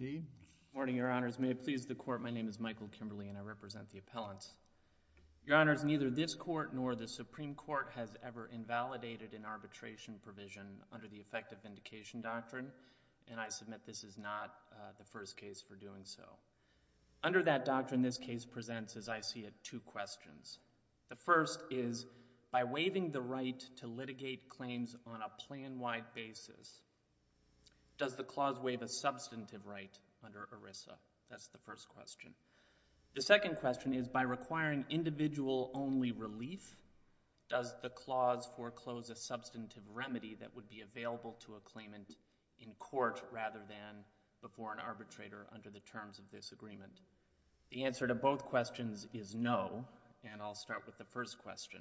Good morning, your honors. May it please the court, my name is Michael Kimberly and I represent the appellant. Your honors, neither this court nor the Supreme Court has ever invalidated an arbitration provision under the Effective Vindication Doctrine and I submit this is not the first case for doing so. Under that doctrine, this case presents, as I see it, two questions. The first is, by waiving the right to litigate claims on a plan-wide basis, does the clause waive a substantive right under ERISA? That's the first question. The second question is, by requiring individual-only relief, does the clause foreclose a substantive remedy that would be available to a claimant in court rather than before an arbitrator under the terms of this agreement? The answer to both questions is no, and I'll start with the first question.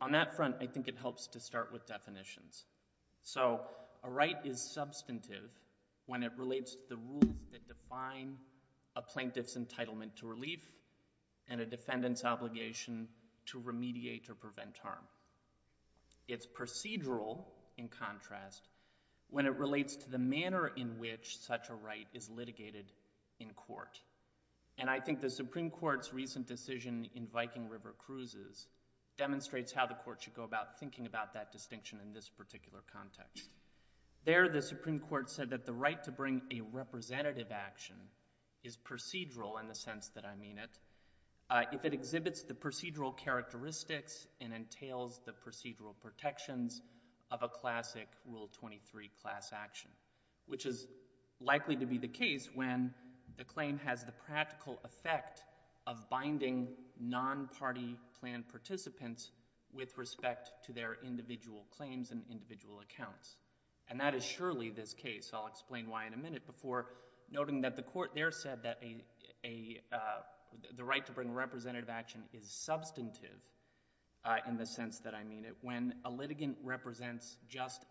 On that front, I think it helps to start with definitions. So a right is substantive when it relates to the rules that define a plaintiff's entitlement to relief and a defendant's obligation to remediate or prevent harm. It's procedural, in contrast, when it relates to the manner in which such a right is litigated in court. And I think the Supreme Court's recent decision in Viking River Cruises demonstrates how the Court should go about thinking about that distinction in this particular context. There, the Supreme Court said that the right to bring a representative action is procedural in the sense that I mean it if it exhibits the procedural characteristics and entails the procedural protections of a classic Rule 23 class action, which is likely to be the case when the claim has the practical effect of binding non-party plan participants with respect to their individual claims and individual accounts. And that is surely this case. I'll explain why in a minute before noting that the Court there said that the right to bring a representative action is just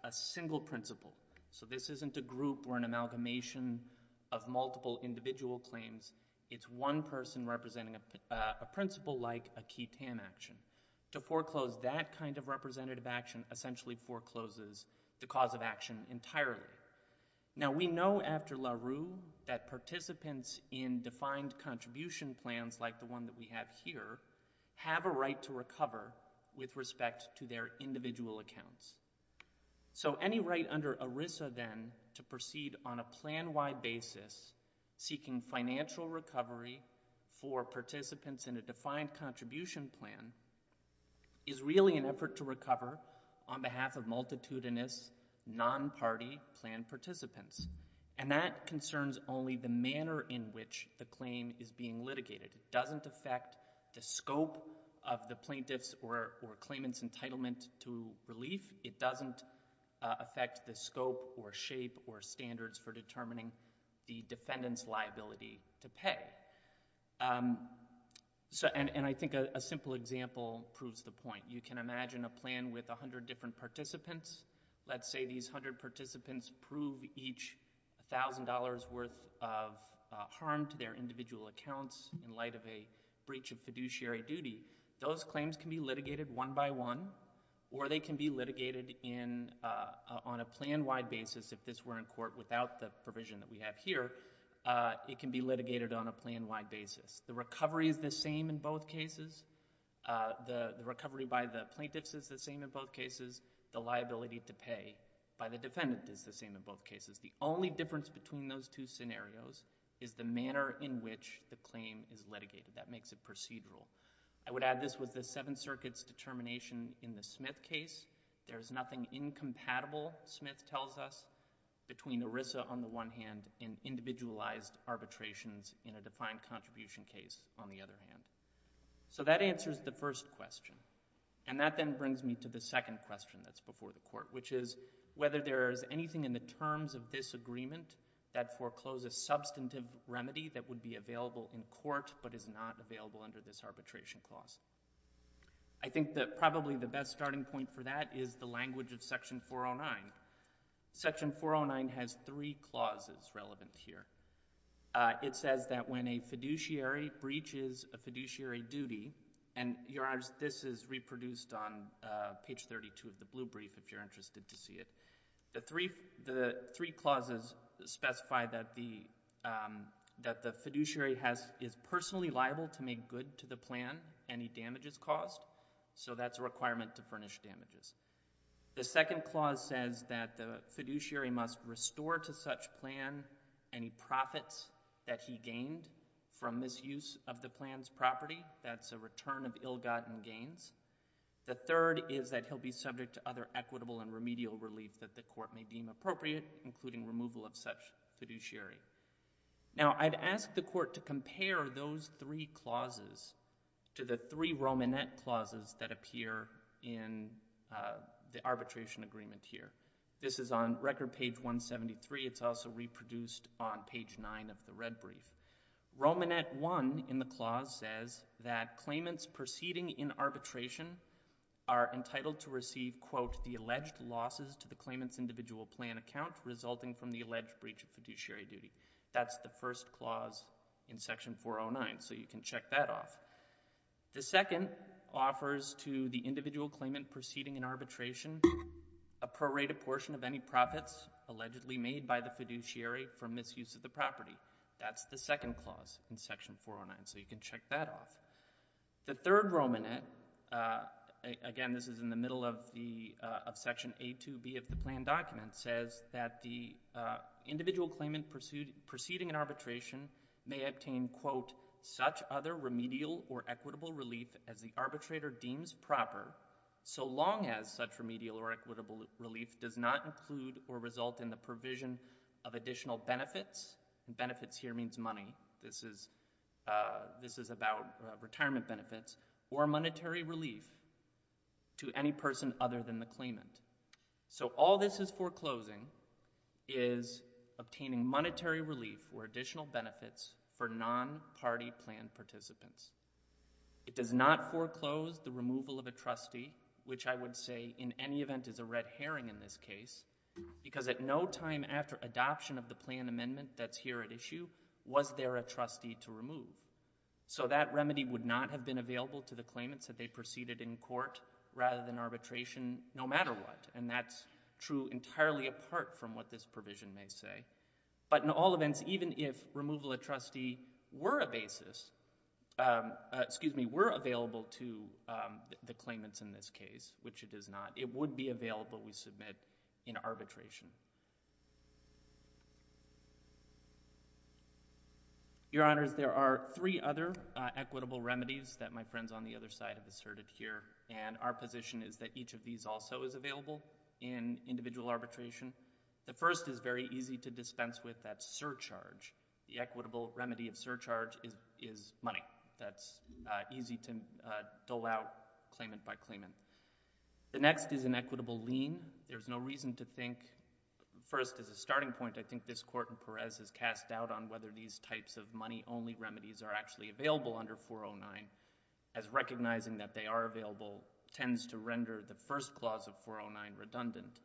a single principle. So this isn't a group or an amalgamation of multiple individual claims. It's one person representing a principle like a key TAM action. To foreclose that kind of representative action essentially forecloses the cause of action entirely. Now we know after LaRue that participants in defined contribution plans like the one that we have here have a right to recover with respect to their individual accounts. So any right under ERISA then to proceed on a plan-wide basis seeking financial recovery for participants in a defined contribution plan is really an effort to recover on behalf of multitudinous non-party plan participants. And that concerns only the manner in which the claim is being litigated. It doesn't affect the scope of the plaintiff's or claimant's entitlement to relief. It doesn't affect the scope or shape or standards for determining the defendant's liability to pay. And I think a simple example proves the point. You can imagine a plan with a hundred different participants. Let's say these hundred participants prove each $1,000 worth of harm to their individual accounts in light of a breach of fiduciary duty. Those claims can be litigated one by one or they can be litigated on a plan-wide basis if this were in court without the provision that we have here. It can be litigated on a plan-wide basis. The recovery is the same in both cases. The recovery by the plaintiff is the same in both cases. The liability to pay by the defendant is the same in both cases. The only difference between those two scenarios is the manner in which the claim is litigated. That makes it procedural. I would add this was the Seventh Circuit's determination in the Smith case. There is nothing incompatible, Smith tells us, between ERISA on the one hand and individualized arbitrations in a defined contribution case on the other hand. So that answers the first question. And that then brings me to the second question that's before the court, which is whether there is anything in the terms of this agreement that forecloses substantive remedy that would be available in court but is not available under this arbitration clause. I think that probably the best starting point for that is the language of Section 409. Section 409 has three clauses relevant here. It says that when a fiduciary breaches a fiduciary duty, and this is reproduced on the court, the three clauses specify that the fiduciary is personally liable to make good to the plan any damages caused. So that's a requirement to furnish damages. The second clause says that the fiduciary must restore to such plan any profits that he gained from misuse of the plan's property. That's a return of ill-gotten gains. The third is that he'll be subject to other equitable and remedial relief that the court may deem appropriate, including removal of such fiduciary. Now, I'd ask the court to compare those three clauses to the three Romanet clauses that appear in the arbitration agreement here. This is on record page 173. It's also reproduced on page 9 of the red brief. Romanet 1 in the clause says that claimants proceeding in arbitration are entitled to receive, quote, the alleged losses to the claimant's individual plan account resulting from the alleged breach of fiduciary duty. That's the first clause in Section 409, so you can check that off. The second offers to the individual claimant proceeding in arbitration a prorated portion of any profits allegedly made by the fiduciary for misuse of the property. That's the second clause in Section 409, so you can check that off. The third Romanet, again, this is in the middle of Section A2B of the plan document, says that the individual claimant proceeding in arbitration may obtain, quote, such other remedial or equitable relief as the arbitrator deems proper so long as such remedial or equitable relief does not include or result in the provision of additional benefits, and benefits here means money, this is about retirement benefits, or monetary relief to any person other than the claimant. So all this is foreclosing is obtaining monetary relief or additional benefits for non-party plan participants. It does not foreclose the removal of a trustee, which I would say in any event is a red herring in this case, because at no time after adoption of the plan amendment that's here at issue, was there a trustee to remove. So that remedy would not have been available to the claimants that they proceeded in court rather than arbitration no matter what, and that's true entirely apart from what this provision may say. But in all events, even if removal of trustee were a basis, excuse me, were available to the claimants in this case, which it is not, it would be available we submit in arbitration. Your Honors, there are three other equitable remedies that my friends on the other side have asserted here, and our position is that each of these also is available in individual arbitration. The first is very easy to dispense with, that's surcharge. The equitable remedy of surcharge is money. That's easy to dole out claimant by claimant. The next is an equitable lien. There's no reason to think, first as a starting point, I think this Court in Perez has cast doubt on whether these types of money only remedies are actually available under 409, as recognizing that they are available tends to render the first clause of 409 redundant.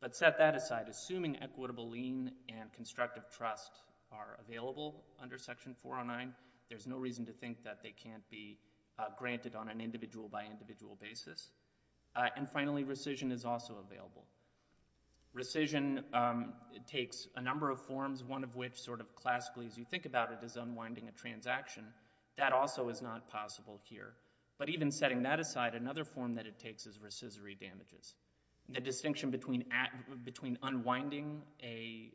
But set that aside, assuming equitable lien and constructive trust are available under Section 409, there's no reason to think that they can't be granted on an individual by individual basis. And finally, rescission is also available. Rescission takes a number of forms, one of which sort of classically as you think about it is unwinding a transaction. That also is not possible here. But even setting that aside, another form that it takes is rescissory damages. The distinction between unwinding a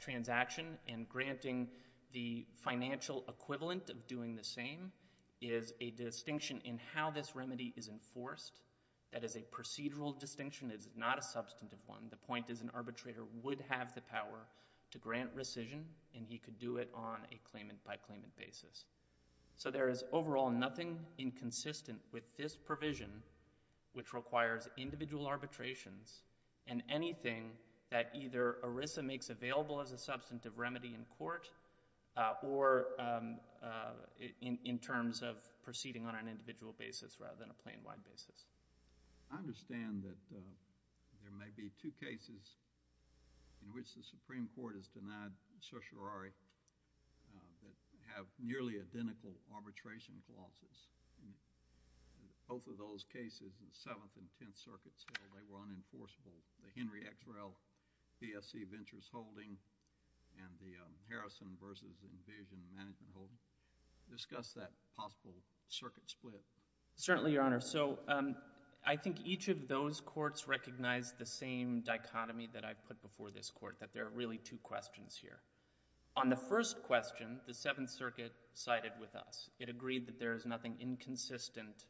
transaction and granting the financial equivalent of doing that transaction is the same, is a distinction in how this remedy is enforced. That is a procedural distinction, it is not a substantive one. The point is an arbitrator would have the power to grant rescission and he could do it on a claimant by claimant basis. So there is overall nothing inconsistent with this provision, which requires individual arbitrations and anything that either ERISA makes available as a substantive remedy in court or in terms of proceeding on an individual basis rather than a plain white basis. I understand that there may be two cases in which the Supreme Court has denied certiorari that have nearly identical arbitration clauses. Both of those cases, the Seventh and Tenth Circuit, the PSC Ventures Holding and the Harrison v. Envision Management Holding. Discuss that possible circuit split. Certainly, Your Honor. So I think each of those courts recognized the same dichotomy that I put before this Court, that there are really two questions here. On the first question, the Seventh Circuit sided with us. It agreed that there is nothing inconsistent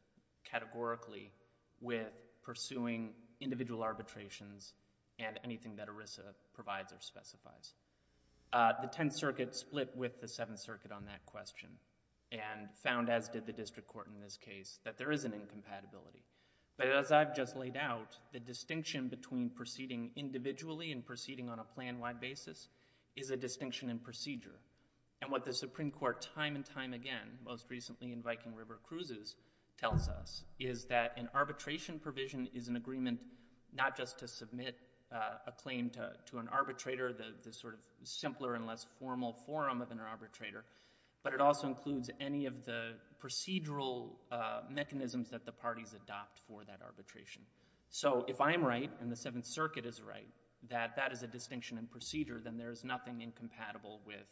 categorically with pursuing individual arbitrations and anything that ERISA provides or specifies. The Tenth Circuit split with the Seventh Circuit on that question and found, as did the District Court in this case, that there is an incompatibility. But as I've just laid out, the distinction between proceeding individually and proceeding on a plain white basis is a distinction in procedure. And what the Supreme Court time and time again, most recently in Viking River Cruises, tells us is that an arbitration provision is an agreement not just to submit a claim to an arbitrator, the sort of simpler and less formal form of an arbitrator, but it also includes any of the procedural mechanisms that the parties adopt for that arbitration. So if I'm right and the Seventh Circuit is right that that is a distinction in procedure, then there is nothing incompatible with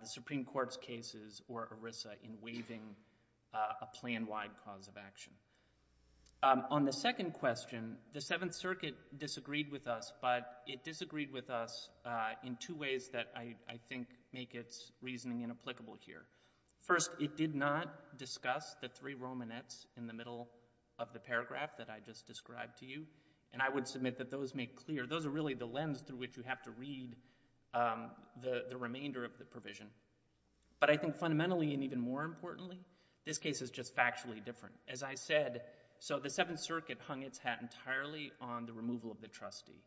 the Supreme Court's cases or ERISA in waiving a plan-wide cause of action. On the second question, the Seventh Circuit disagreed with us, but it disagreed with us in two ways that I think make its reasoning inapplicable here. First, it did not discuss the three Romanets in the middle of the paragraph that I just described to you. And I would admit that those make clear, those are really the lens through which you have to read the remainder of the provision. But I think fundamentally and even more importantly, this case is just factually different. As I said, so the Seventh Circuit hung its hat entirely on the removal of the trustee.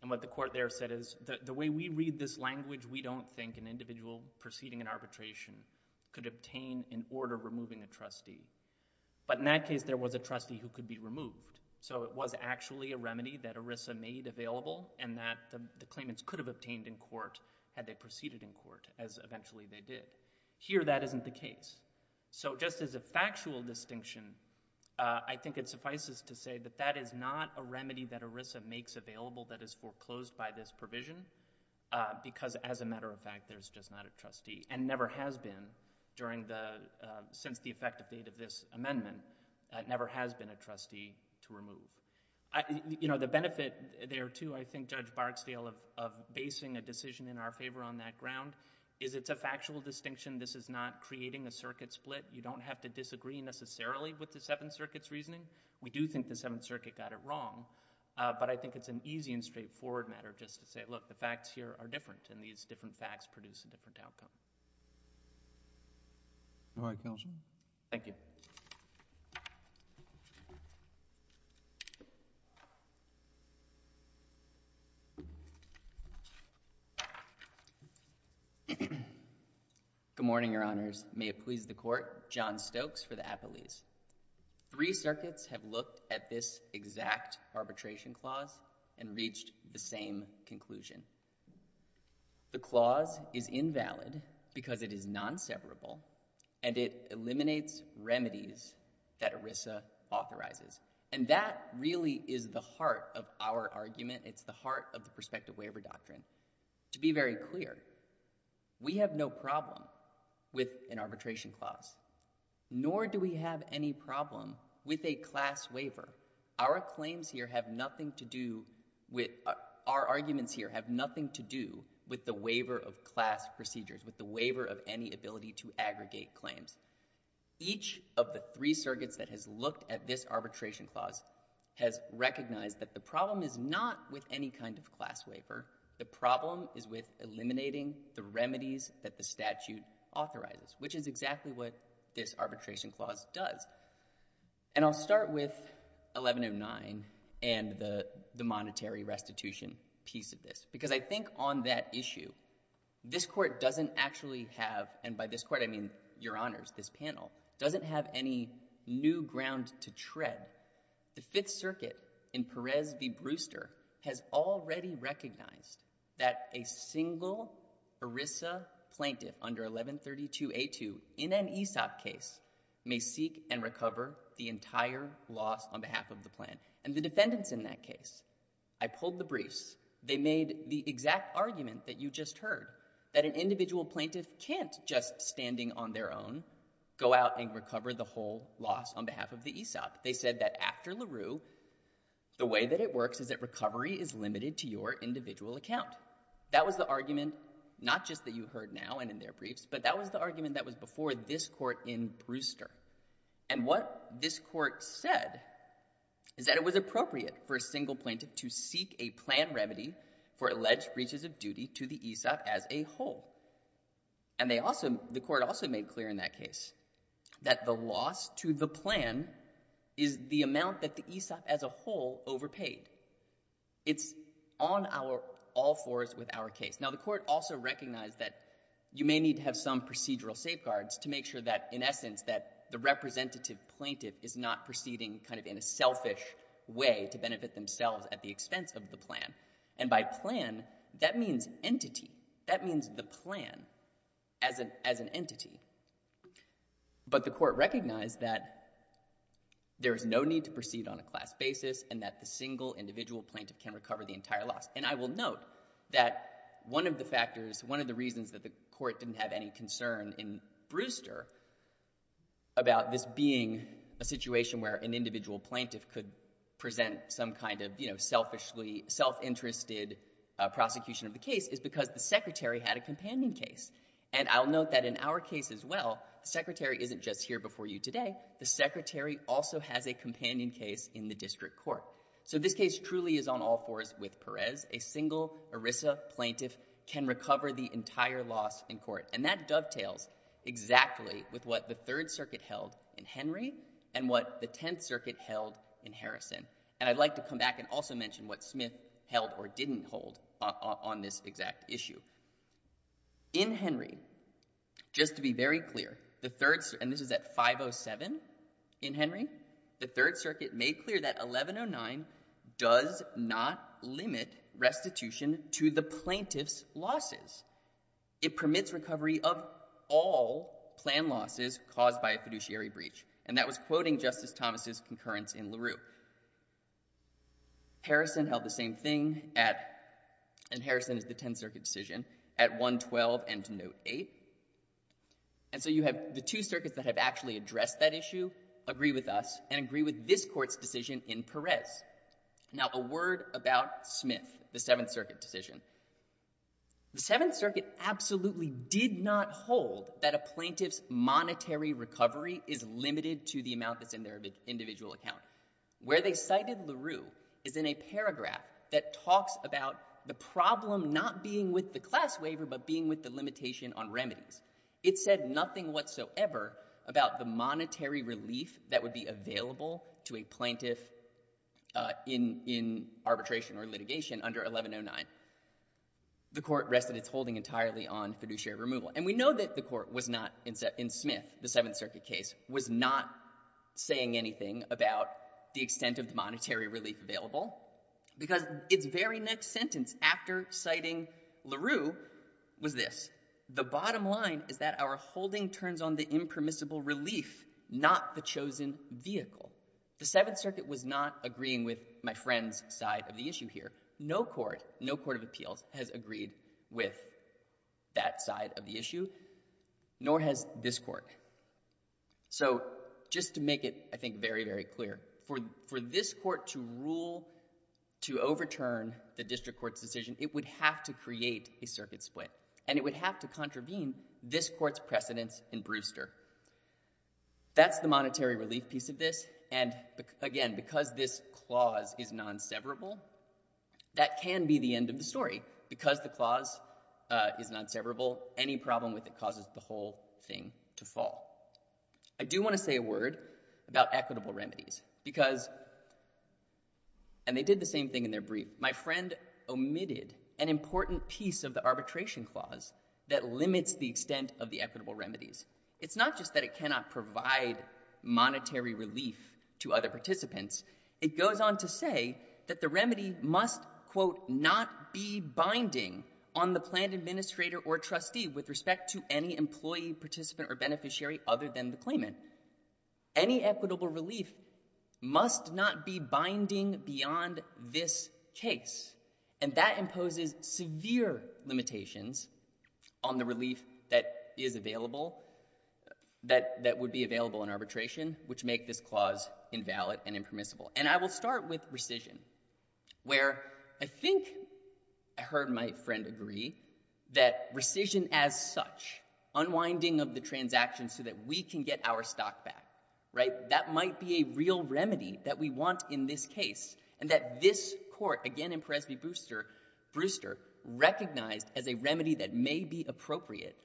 And what the court there said is, the way we read this language, we don't think an individual proceeding an arbitration could obtain an order removing a trustee. But in that case, there was a trustee who could be removed. So it was actually a remedy that ERISA made available and that the claimants could have obtained in court had they proceeded in court as eventually they did. Here, that isn't the case. So just as a factual distinction, I think it suffices to say that that is not a remedy that ERISA makes available that is foreclosed by this provision, because as a matter of fact, there's just not a trustee and never has been during the, since the effective date of this amendment, never has been a trustee to remove. You know, the benefit there too, I think Judge Barksdale of basing a decision in our favor on that ground, is it's a factual distinction. This is not creating a circuit split. You don't have to disagree necessarily with the Seventh Circuit's reasoning. We do think the Seventh Circuit got it wrong, but I think it's an easy and straightforward matter just to say, look, the facts here are different and these different facts produce a different outcome. All right, Counselor. Thank you. Good morning, Your Honors. May it please the Court. John Stokes for the Appellees. Three circuits have looked at this exact arbitration clause and reached the same conclusion. The clause is invalid because it is non-severable and it eliminates remedies that ERISA authorizes. And that really is the heart of our argument. It's the heart of the prospective waiver doctrine. To be very clear, we have no problem with an arbitration clause, nor do we have any problem with a class waiver. Our claims here have nothing to do with, our arguments here have nothing to do with the waiver of class procedures, with the waiver of any ability to aggregate claims. Each of the three circuits that has looked at this arbitration clause has recognized that the problem is not with any kind of class waiver. The problem is with eliminating the remedies that the statute authorizes, which is exactly what this arbitration clause does. And I'll start with 1109 and the monetary restitution piece of this. Because I think on that issue, this Court doesn't actually have, and by this Court I mean Your Honors, this panel, doesn't have any new ground to tread. The Fifth Circuit in Perez v. Brewster has already recognized that a single ERISA plaintiff under 1132a2 in an ESOP case may seek and recover the entire loss on behalf of the plaintiff. And the defendants in that case, I pulled the briefs, they made the exact argument that you just heard, that an individual plaintiff can't just, standing on their own, go out and recover the whole loss on behalf of the ESOP. They said that after LaRue, the way that it works is that recovery is limited to your individual account. That was the argument, not just that you heard now and in their briefs, but that was the argument that was before this Court in Brewster. And what this Court said is that it was appropriate for a single plaintiff to seek a plan remedy for alleged breaches of duty to the ESOP as a whole. And the Court also made clear in that case that the loss to the plan is the amount that the ESOP as a whole overpaid. It's on all fours with our case. Now, the Court also recognized that you may need to have some procedural safeguards to make sure that, in essence, that the representative plaintiff is not proceeding kind of in a selfish way to benefit themselves at the expense of the plan. And by plan, that means entity. That means the plan as an entity. But the Court recognized that there is no need to proceed on a class basis and that the single individual plaintiff can recover the entire loss. And I will note that one of the factors, one of the reasons that the Court didn't have any concern in Brewster about this being a situation where an individual plaintiff could present some kind of, you know, selfishly, self-interested prosecution of the case is because the Secretary had a companion case. And I'll note that in our case as well, the Secretary isn't just here before you today. The Secretary also has a relationship with Perez. A single ERISA plaintiff can recover the entire loss in court. And that dovetails exactly with what the Third Circuit held in Henry and what the Tenth Circuit held in Harrison. And I'd like to come back and also mention what Smith held or didn't hold on this exact issue. In Henry, just to be very clear, the Third Circuit, and this limit restitution to the plaintiff's losses. It permits recovery of all planned losses caused by a fiduciary breach. And that was quoting Justice Thomas' concurrence in LaRue. Harrison held the same thing at, and Harrison is the Tenth Circuit decision, at 112 and to Note 8. And so you have the two circuits that have actually addressed that issue agree with us and agree with this court's decision in Perez. Now a word about Smith, the Seventh Circuit decision. The Seventh Circuit absolutely did not hold that a plaintiff's monetary recovery is limited to the amount that's in their individual account. Where they cited LaRue is in a paragraph that talks about the problem not being with the class waiver, but being with the limitation on remedies. It said nothing whatsoever about the monetary relief that would be available to a plaintiff in arbitration or litigation under 1109. The court rested its holding entirely on fiduciary removal. And we know that the court was not, in Smith, the Seventh Circuit case, was not saying anything about the extent of the monetary relief available. Because its very next sentence after citing LaRue was this. The bottom line is that our holding turns on the impermissible relief, not the chosen vehicle. The Seventh Circuit was not agreeing with my friend's side of the issue here. No court, no court of appeals has agreed with that side of the issue, nor has this court. So just to make it, I think, very, very clear, for this court to rule to overturn the district court's decision, it would have to create a circuit split. And it would have to contravene this court's precedence in Brewster. That's the monetary relief piece of this. And again, because this clause is non-severable, that can be the end of the story. Because the clause is non-severable, any problem with it causes the whole thing to fall. I do want to say a word about equitable remedies. Because, and they did the same thing in their case, they created an important piece of the arbitration clause that limits the extent of the equitable remedies. It's not just that it cannot provide monetary relief to other participants. It goes on to say that the remedy must, quote, not be binding on the planned administrator or trustee with respect to any employee, participant, or beneficiary other than the claimant. Any equitable relief must not be binding beyond this case. And that imposes severe limitations on the relief that is available, that would be available in arbitration, which make this clause invalid and impermissible. And I will start with rescission, where I think I heard my friend agree that rescission as such, unwinding of the transaction so that we can get our stock back, right, that might be a real remedy that we want in this case. And that this court, again in Presby-Brewster, recognized as a remedy that may be appropriate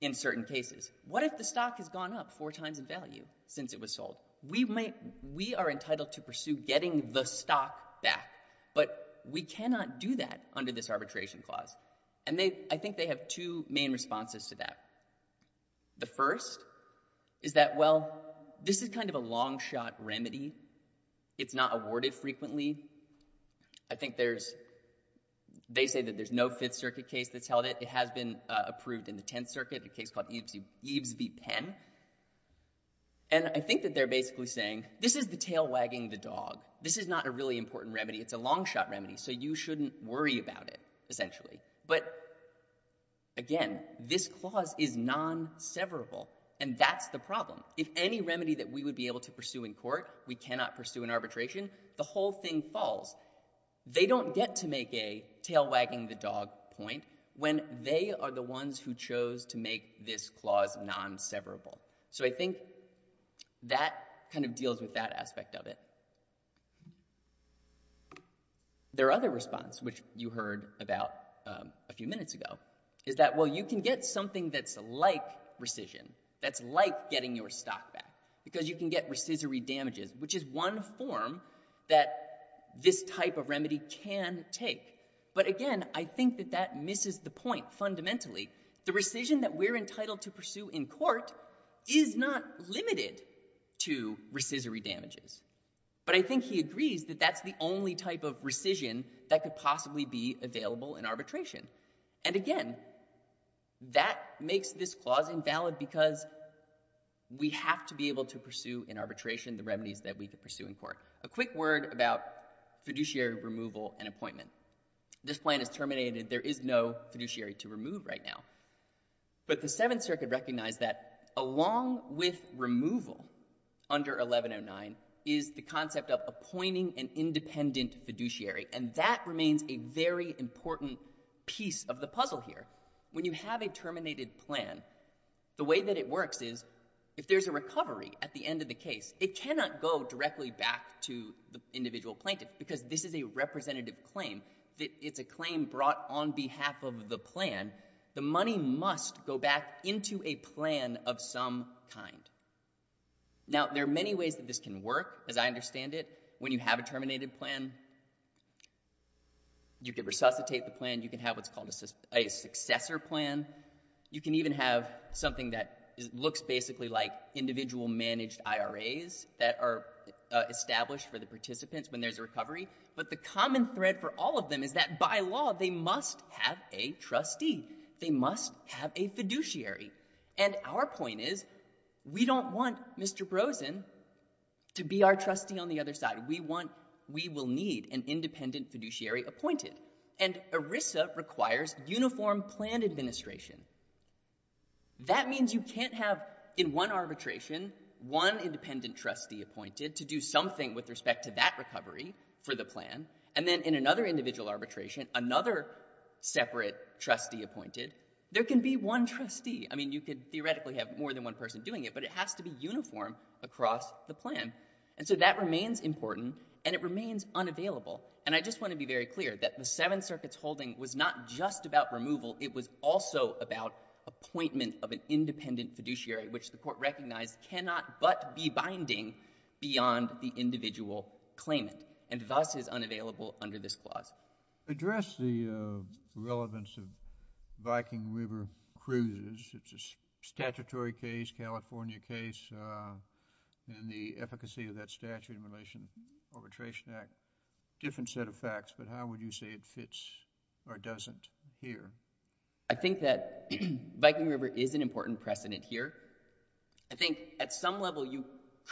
in certain cases. What if the stock has gone up four times in value since it was sold? We are entitled to pursue getting the stock back. But we cannot do that under this arbitration clause. And I think they have two main responses to that. The first is that, well, this is kind of a long-shot remedy. It's not awarded frequently. I think there's, they say that there's no Fifth Circuit case that's held it. It has been approved in the Tenth Circuit, a case called Eves v. Penn. And I think that they're basically saying, this is the tail wagging the dog. This is not a really important remedy. It's a long-shot remedy. So you shouldn't worry about it, essentially. But, again, this clause is non-severable. And that's the problem. If any remedy that we would be able to pursue in court we cannot pursue in arbitration, the whole thing falls. They don't get to make a tail wagging the dog point when they are the ones who chose to make this clause non-severable. So I think that kind of deals with that aspect of it. Their other response, which you heard about a few minutes ago, is that, well, you can get something that's like rescission, that's like getting your stock back, because you can get rescissory damages, which is one form that this type of remedy can take. But, again, I think that that misses the point fundamentally. The rescission that we're entitled to pursue in court is not limited to rescissory damages. But I think he agrees that that's the only type of rescission that could possibly be available in arbitration. And, again, that makes this clause invalid because we have to be able to pursue in arbitration the remedies that we could pursue in court. A quick word about fiduciary removal and appointment. This plan is terminated. There is no fiduciary to remove right now. But the Seventh Circuit recognized that along with removal under 1109 is the concept of appointing an independent fiduciary. And that remains a very important piece of the puzzle here. When you have a terminated plan, the way that it works is, if there's a recovery at the end of the case, it cannot go directly back to the individual plaintiff, because this is a representative claim. It's a claim brought on behalf of the plan. The money must go back into a plan of some kind. Now, there are many ways that this can work, as I understand it. When you have a terminated plan, you could resuscitate the plan. You could have what's called a successor plan. You can even have something that looks basically like individual managed IRAs that are established for the participants when there's a recovery. But the common thread for all of them is that, by law, they must have a trustee. They must have a fiduciary. And our point is we don't want Mr. Brosen to be our trustee on the other side. We will need an independent fiduciary appointed. And ERISA requires uniform plan administration. That means you can't have in one arbitration one independent trustee appointed to do something with respect to that recovery for the plan. And then in another individual arbitration, another separate trustee appointed. There can be one trustee. I mean, you could theoretically have more than one person doing it, but it has to be uniform across the plan. And so that remains important, and it remains unavailable. And I just want to be very clear that the Seven Circuits holding was not just about removal. It was also about appointment of an independent fiduciary, which the Court recognized cannot but be binding beyond the individual claimant, and thus is unavailable under this clause. Address the relevance of Viking River cruises. It's a statutory case, California case, and the efficacy of that statute in relation to the Arbitration Act. Different set of facts, but how would you say it fits or doesn't here? I think that Viking River is an important precedent here. I think at some level you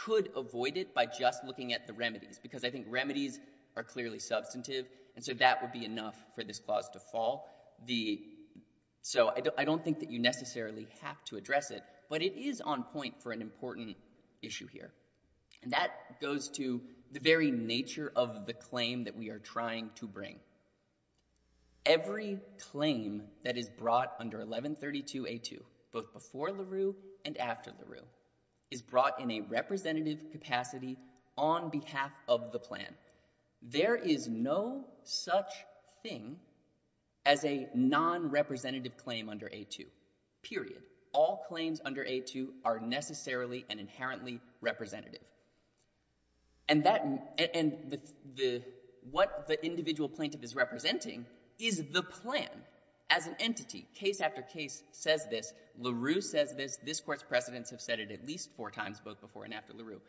could avoid it by just looking at the remedies, because I think remedies are clearly substantive, and so that would be enough for this clause to fall. So I don't think that you necessarily have to address it, but it is on point for an important issue here. And that goes to the very nature of the claim that we are trying to bring. Every claim that is brought under 1132A2, both before LaRue and after LaRue, is brought in a representative capacity on a non-representative basis. There is no such thing as a non-representative claim under A2, period. All claims under A2 are necessarily and inherently representative. And that — and what the individual plaintiff is representing is the plan as an entity. Case after case says this. LaRue says this. This Court's precedents have said it at least four times, both before and after LaRue.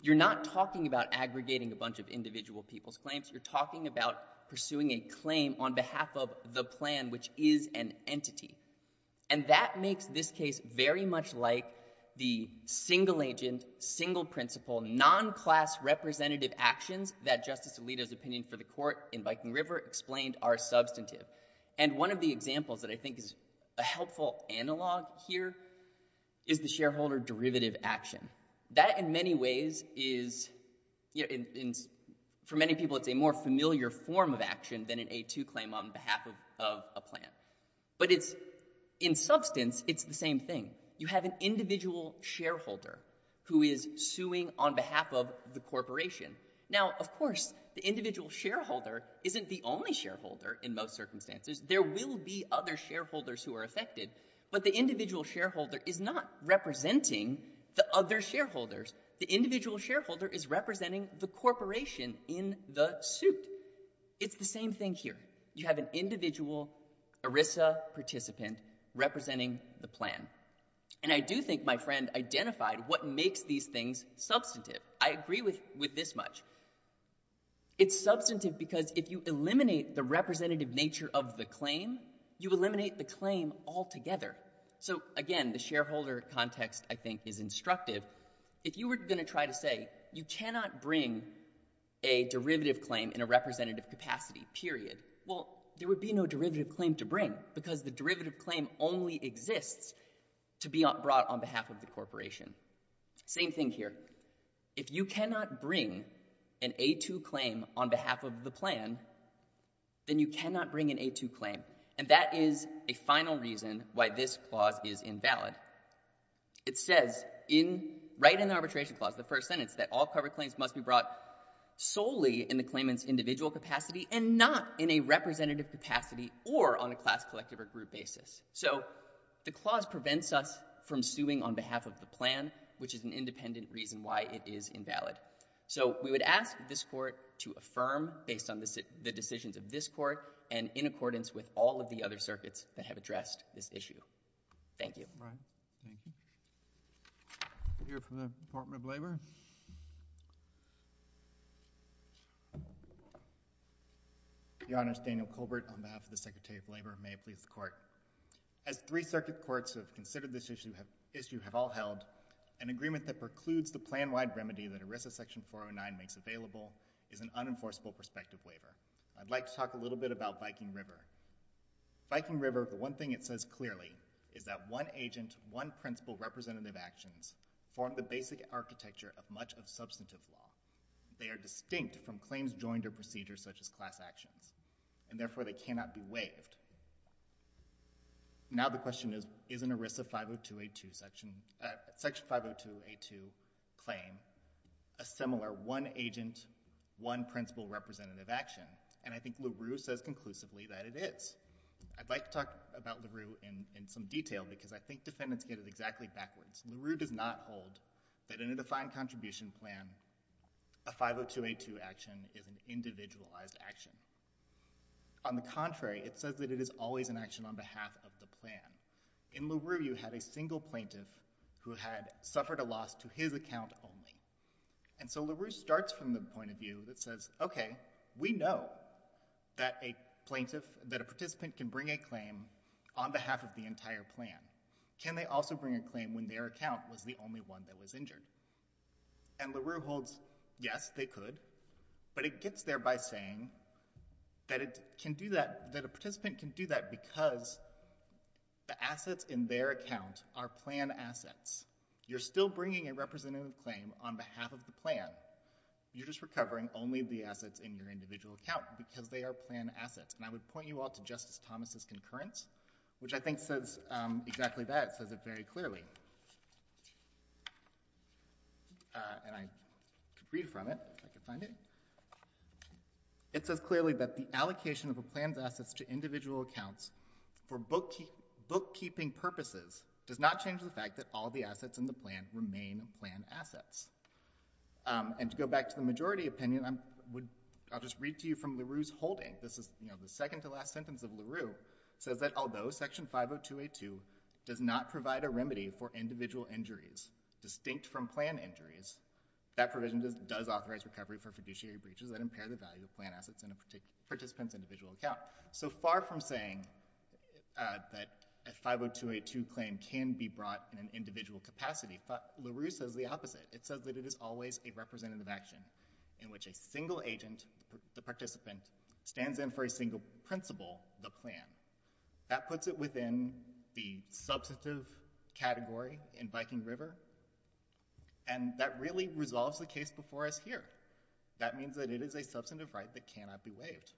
You're not talking about aggregating a bunch of individual people's claims. You're talking about pursuing a claim on behalf of the plan, which is an entity. And that makes this case very much like the single-agent, single-principle, non-class representative actions that Justice Alito's opinion for the court in Viking River explained are substantive. And one of the examples that I think is a helpful analog here is the shareholder derivative action. That, in many ways, is — in many people, it's a more familiar form of action than an A2 claim on behalf of a plan. But it's — in substance, it's the same thing. You have an individual shareholder who is suing on behalf of the corporation. Now, of course, the individual shareholder isn't the only shareholder in most circumstances. There will be other shareholders who are affected. But the individual shareholder is not representing the other shareholders. The individual shareholder is representing the corporation in the suit. It's the same thing here. You have an individual ERISA participant representing the plan. And I do think my friend identified what makes these things substantive. I agree with this much. It's substantive because if you eliminate the representative nature of the claim, you eliminate the claim altogether. So, again, the shareholder context, I think, is instructive. If you were going to try to say, you cannot bring a derivative claim in a representative capacity, period, well, there would be no derivative claim to bring because the derivative claim only exists to be brought on behalf of the corporation. Same thing here. If you cannot bring an A2 claim on behalf of the plan, then you cannot bring an A2 claim. And that is a final reason why this clause is invalid. It says right in the arbitration clause, the first sentence, that all covered claims must be brought solely in the claimant's individual capacity and not in a representative capacity or on a class, collective, or group basis. So the clause prevents us from suing on behalf of the plan, which is an independent reason why it is invalid. So we would ask this Court to affirm, based on the decisions of this Court and in accordance with all of the other circuits that have addressed this issue. Thank you. Right. Thank you. We'll hear from the Department of Labor. Your Honor, Daniel Colbert on behalf of the Secretary of Labor. May it please the Court. As three circuit courts have considered this issue have all held, an agreement that precludes the plan-wide remedy that ERISA Section 409 makes available is an unenforceable prospective waiver. I'd like to talk a little bit about Viking River. Viking River, the one thing it says clearly is that one agent, one principal representative actions form the basic architecture of much of substantive law. They are distinct from claims joined to procedures such as class actions, and therefore they cannot be waived. Now the question is, is an ERISA 50282 Section 50282 claim a similar one agent, one principal representative action? And I think LaRue says conclusively that it is. I'd like to talk about LaRue in some detail because I think defendants get it exactly backwards. LaRue does not hold that in a defined contribution plan a 50282 action is an individualized action. On the contrary, it says that it is always an action on behalf of the plan. In LaRue, you had a single plaintiff who had suffered a loss to his account only. And so LaRue starts from the point of view that says, okay, we know that a participant can bring a claim on behalf of the entire plan. Can they also bring a claim when their account was the only one that was injured? And LaRue holds, yes, they could, but it gets there by saying that it can do that, that a participant can do that because the assets in their account are plan assets. You're still bringing a representative claim on behalf of the plan. You're just recovering only the assets in your individual account because they are plan assets. And I would point you all to Justice Thomas' concurrence, which I think says exactly that. It says it very clearly. And I could read from it. It says clearly that the allocation of a plan's assets to individual accounts for bookkeeping purposes does not change the fact that all the assets in the plan remain plan assets. And to go back to the majority opinion, I'll just read to you from LaRue's holding. This is the second to last sentence of LaRue. It says that although Section 50282 does not provide a remedy for individual injuries distinct from plan injuries, that provision does authorize recovery for fiduciary breaches that impair the value of plan assets in a participant's individual account. So far from saying that a 50282 claim can be brought in an individual capacity, LaRue says the opposite. It says that it is always a representative action in which a single agent, the participant, stands in for a single principal, the plan. That puts it within the substantive category in Viking River, and that really resolves the case before us here. That means that it is a substantive right that cannot be waived.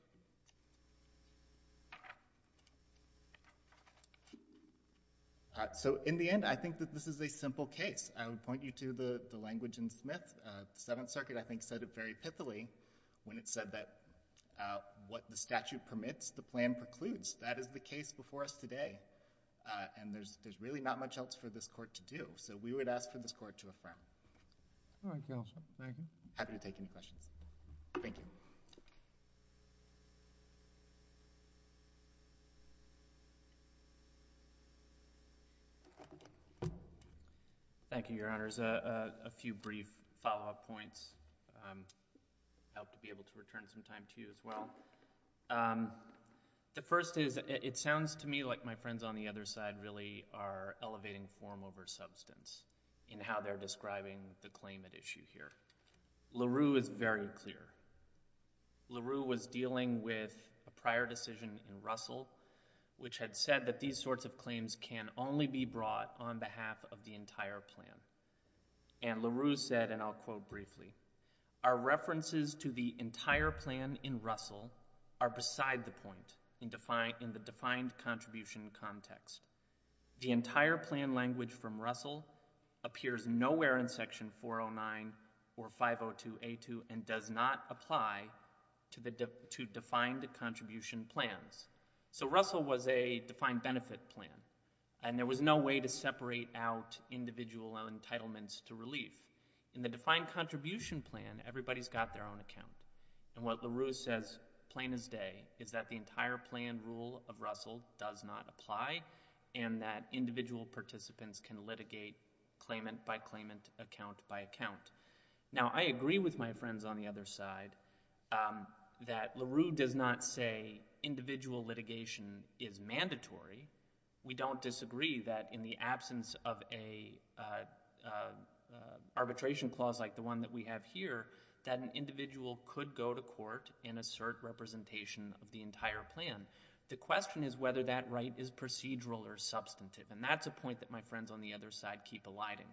So in the end, I think that this is a simple case. I would point you to the language in Smith. The Seventh Circuit, I think, said it very pithily when it said that what the statute permits, the plan precludes. That is the case before us today, and there's really not much else for this Court to do. So we would ask for this Court to affirm. All right, Counselor. Thank you. I'm happy to take any questions. Thank you. Thank you, Your Honors. A few brief follow-up points. I hope to be able to return some time to you as well. The first is, it sounds to me like my friends on the other side really are elevating form over substance in how they're describing the claim at issue here. LaRue is very clear. LaRue was dealing with a prior decision in Russell, which had said that these sorts of claims can only be brought on behalf of the entire plan. And LaRue said, and I'll quote briefly, our references to the entire plan in Russell are beside the point in the defined contribution context. The entire plan language from Russell appears nowhere in Section 409 or 502A2 and does not apply to defined contribution plans. So Russell was a defined benefit plan, and there was no way to separate out individual entitlements to relief. In the defined contribution plan, everybody's got their own account. And what Russell does not apply, and that individual participants can litigate claimant by claimant, account by account. Now, I agree with my friends on the other side that LaRue does not say individual litigation is mandatory. We don't disagree that in the absence of an arbitration clause like the one that we have here, that an individual could go to court and assert representation of the entire plan. The question is whether that right is procedural or substantive, and that's a point that my friends on the other side keep alighting,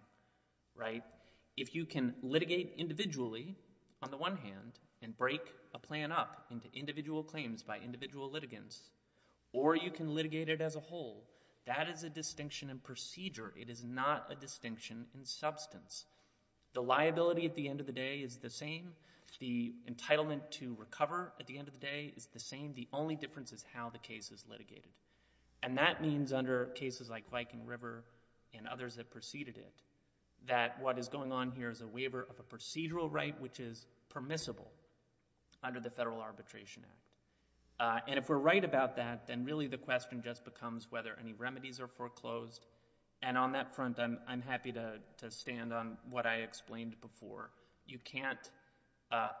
right? If you can litigate individually, on the one hand, and break a plan up into individual claims by individual litigants, or you can litigate it as a whole, that is a distinction in procedure. It is not a distinction in substance. The liability at the end of the day is the same. The entitlement to recover at the end of the day is the same. The only difference is how the case is litigated. And that means under cases like Viking River and others that preceded it, that what is going on here is a waiver of a procedural right which is permissible under the Federal Arbitration Act. And if we're right about that, then really the question just becomes whether any remedies are foreclosed. And on that front, I'm happy to stand on what I explained before. You can't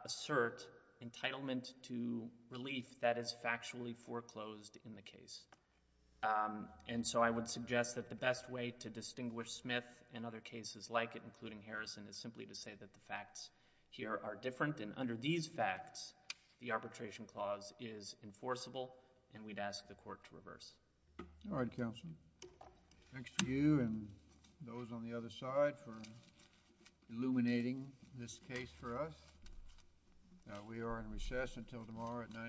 assert entitlement to relief that is factually foreclosed in the case. And so I would suggest that the best way to distinguish Smith and other cases like it, including Harrison, is simply to say that the facts here are different. And under these facts, the Arbitration Clause is enforceable, and we'd ask the Court to reverse. All right, Counselor. Thanks to you and those on the other side for illuminating this case for us. We are in recess until tomorrow at 9 a.m.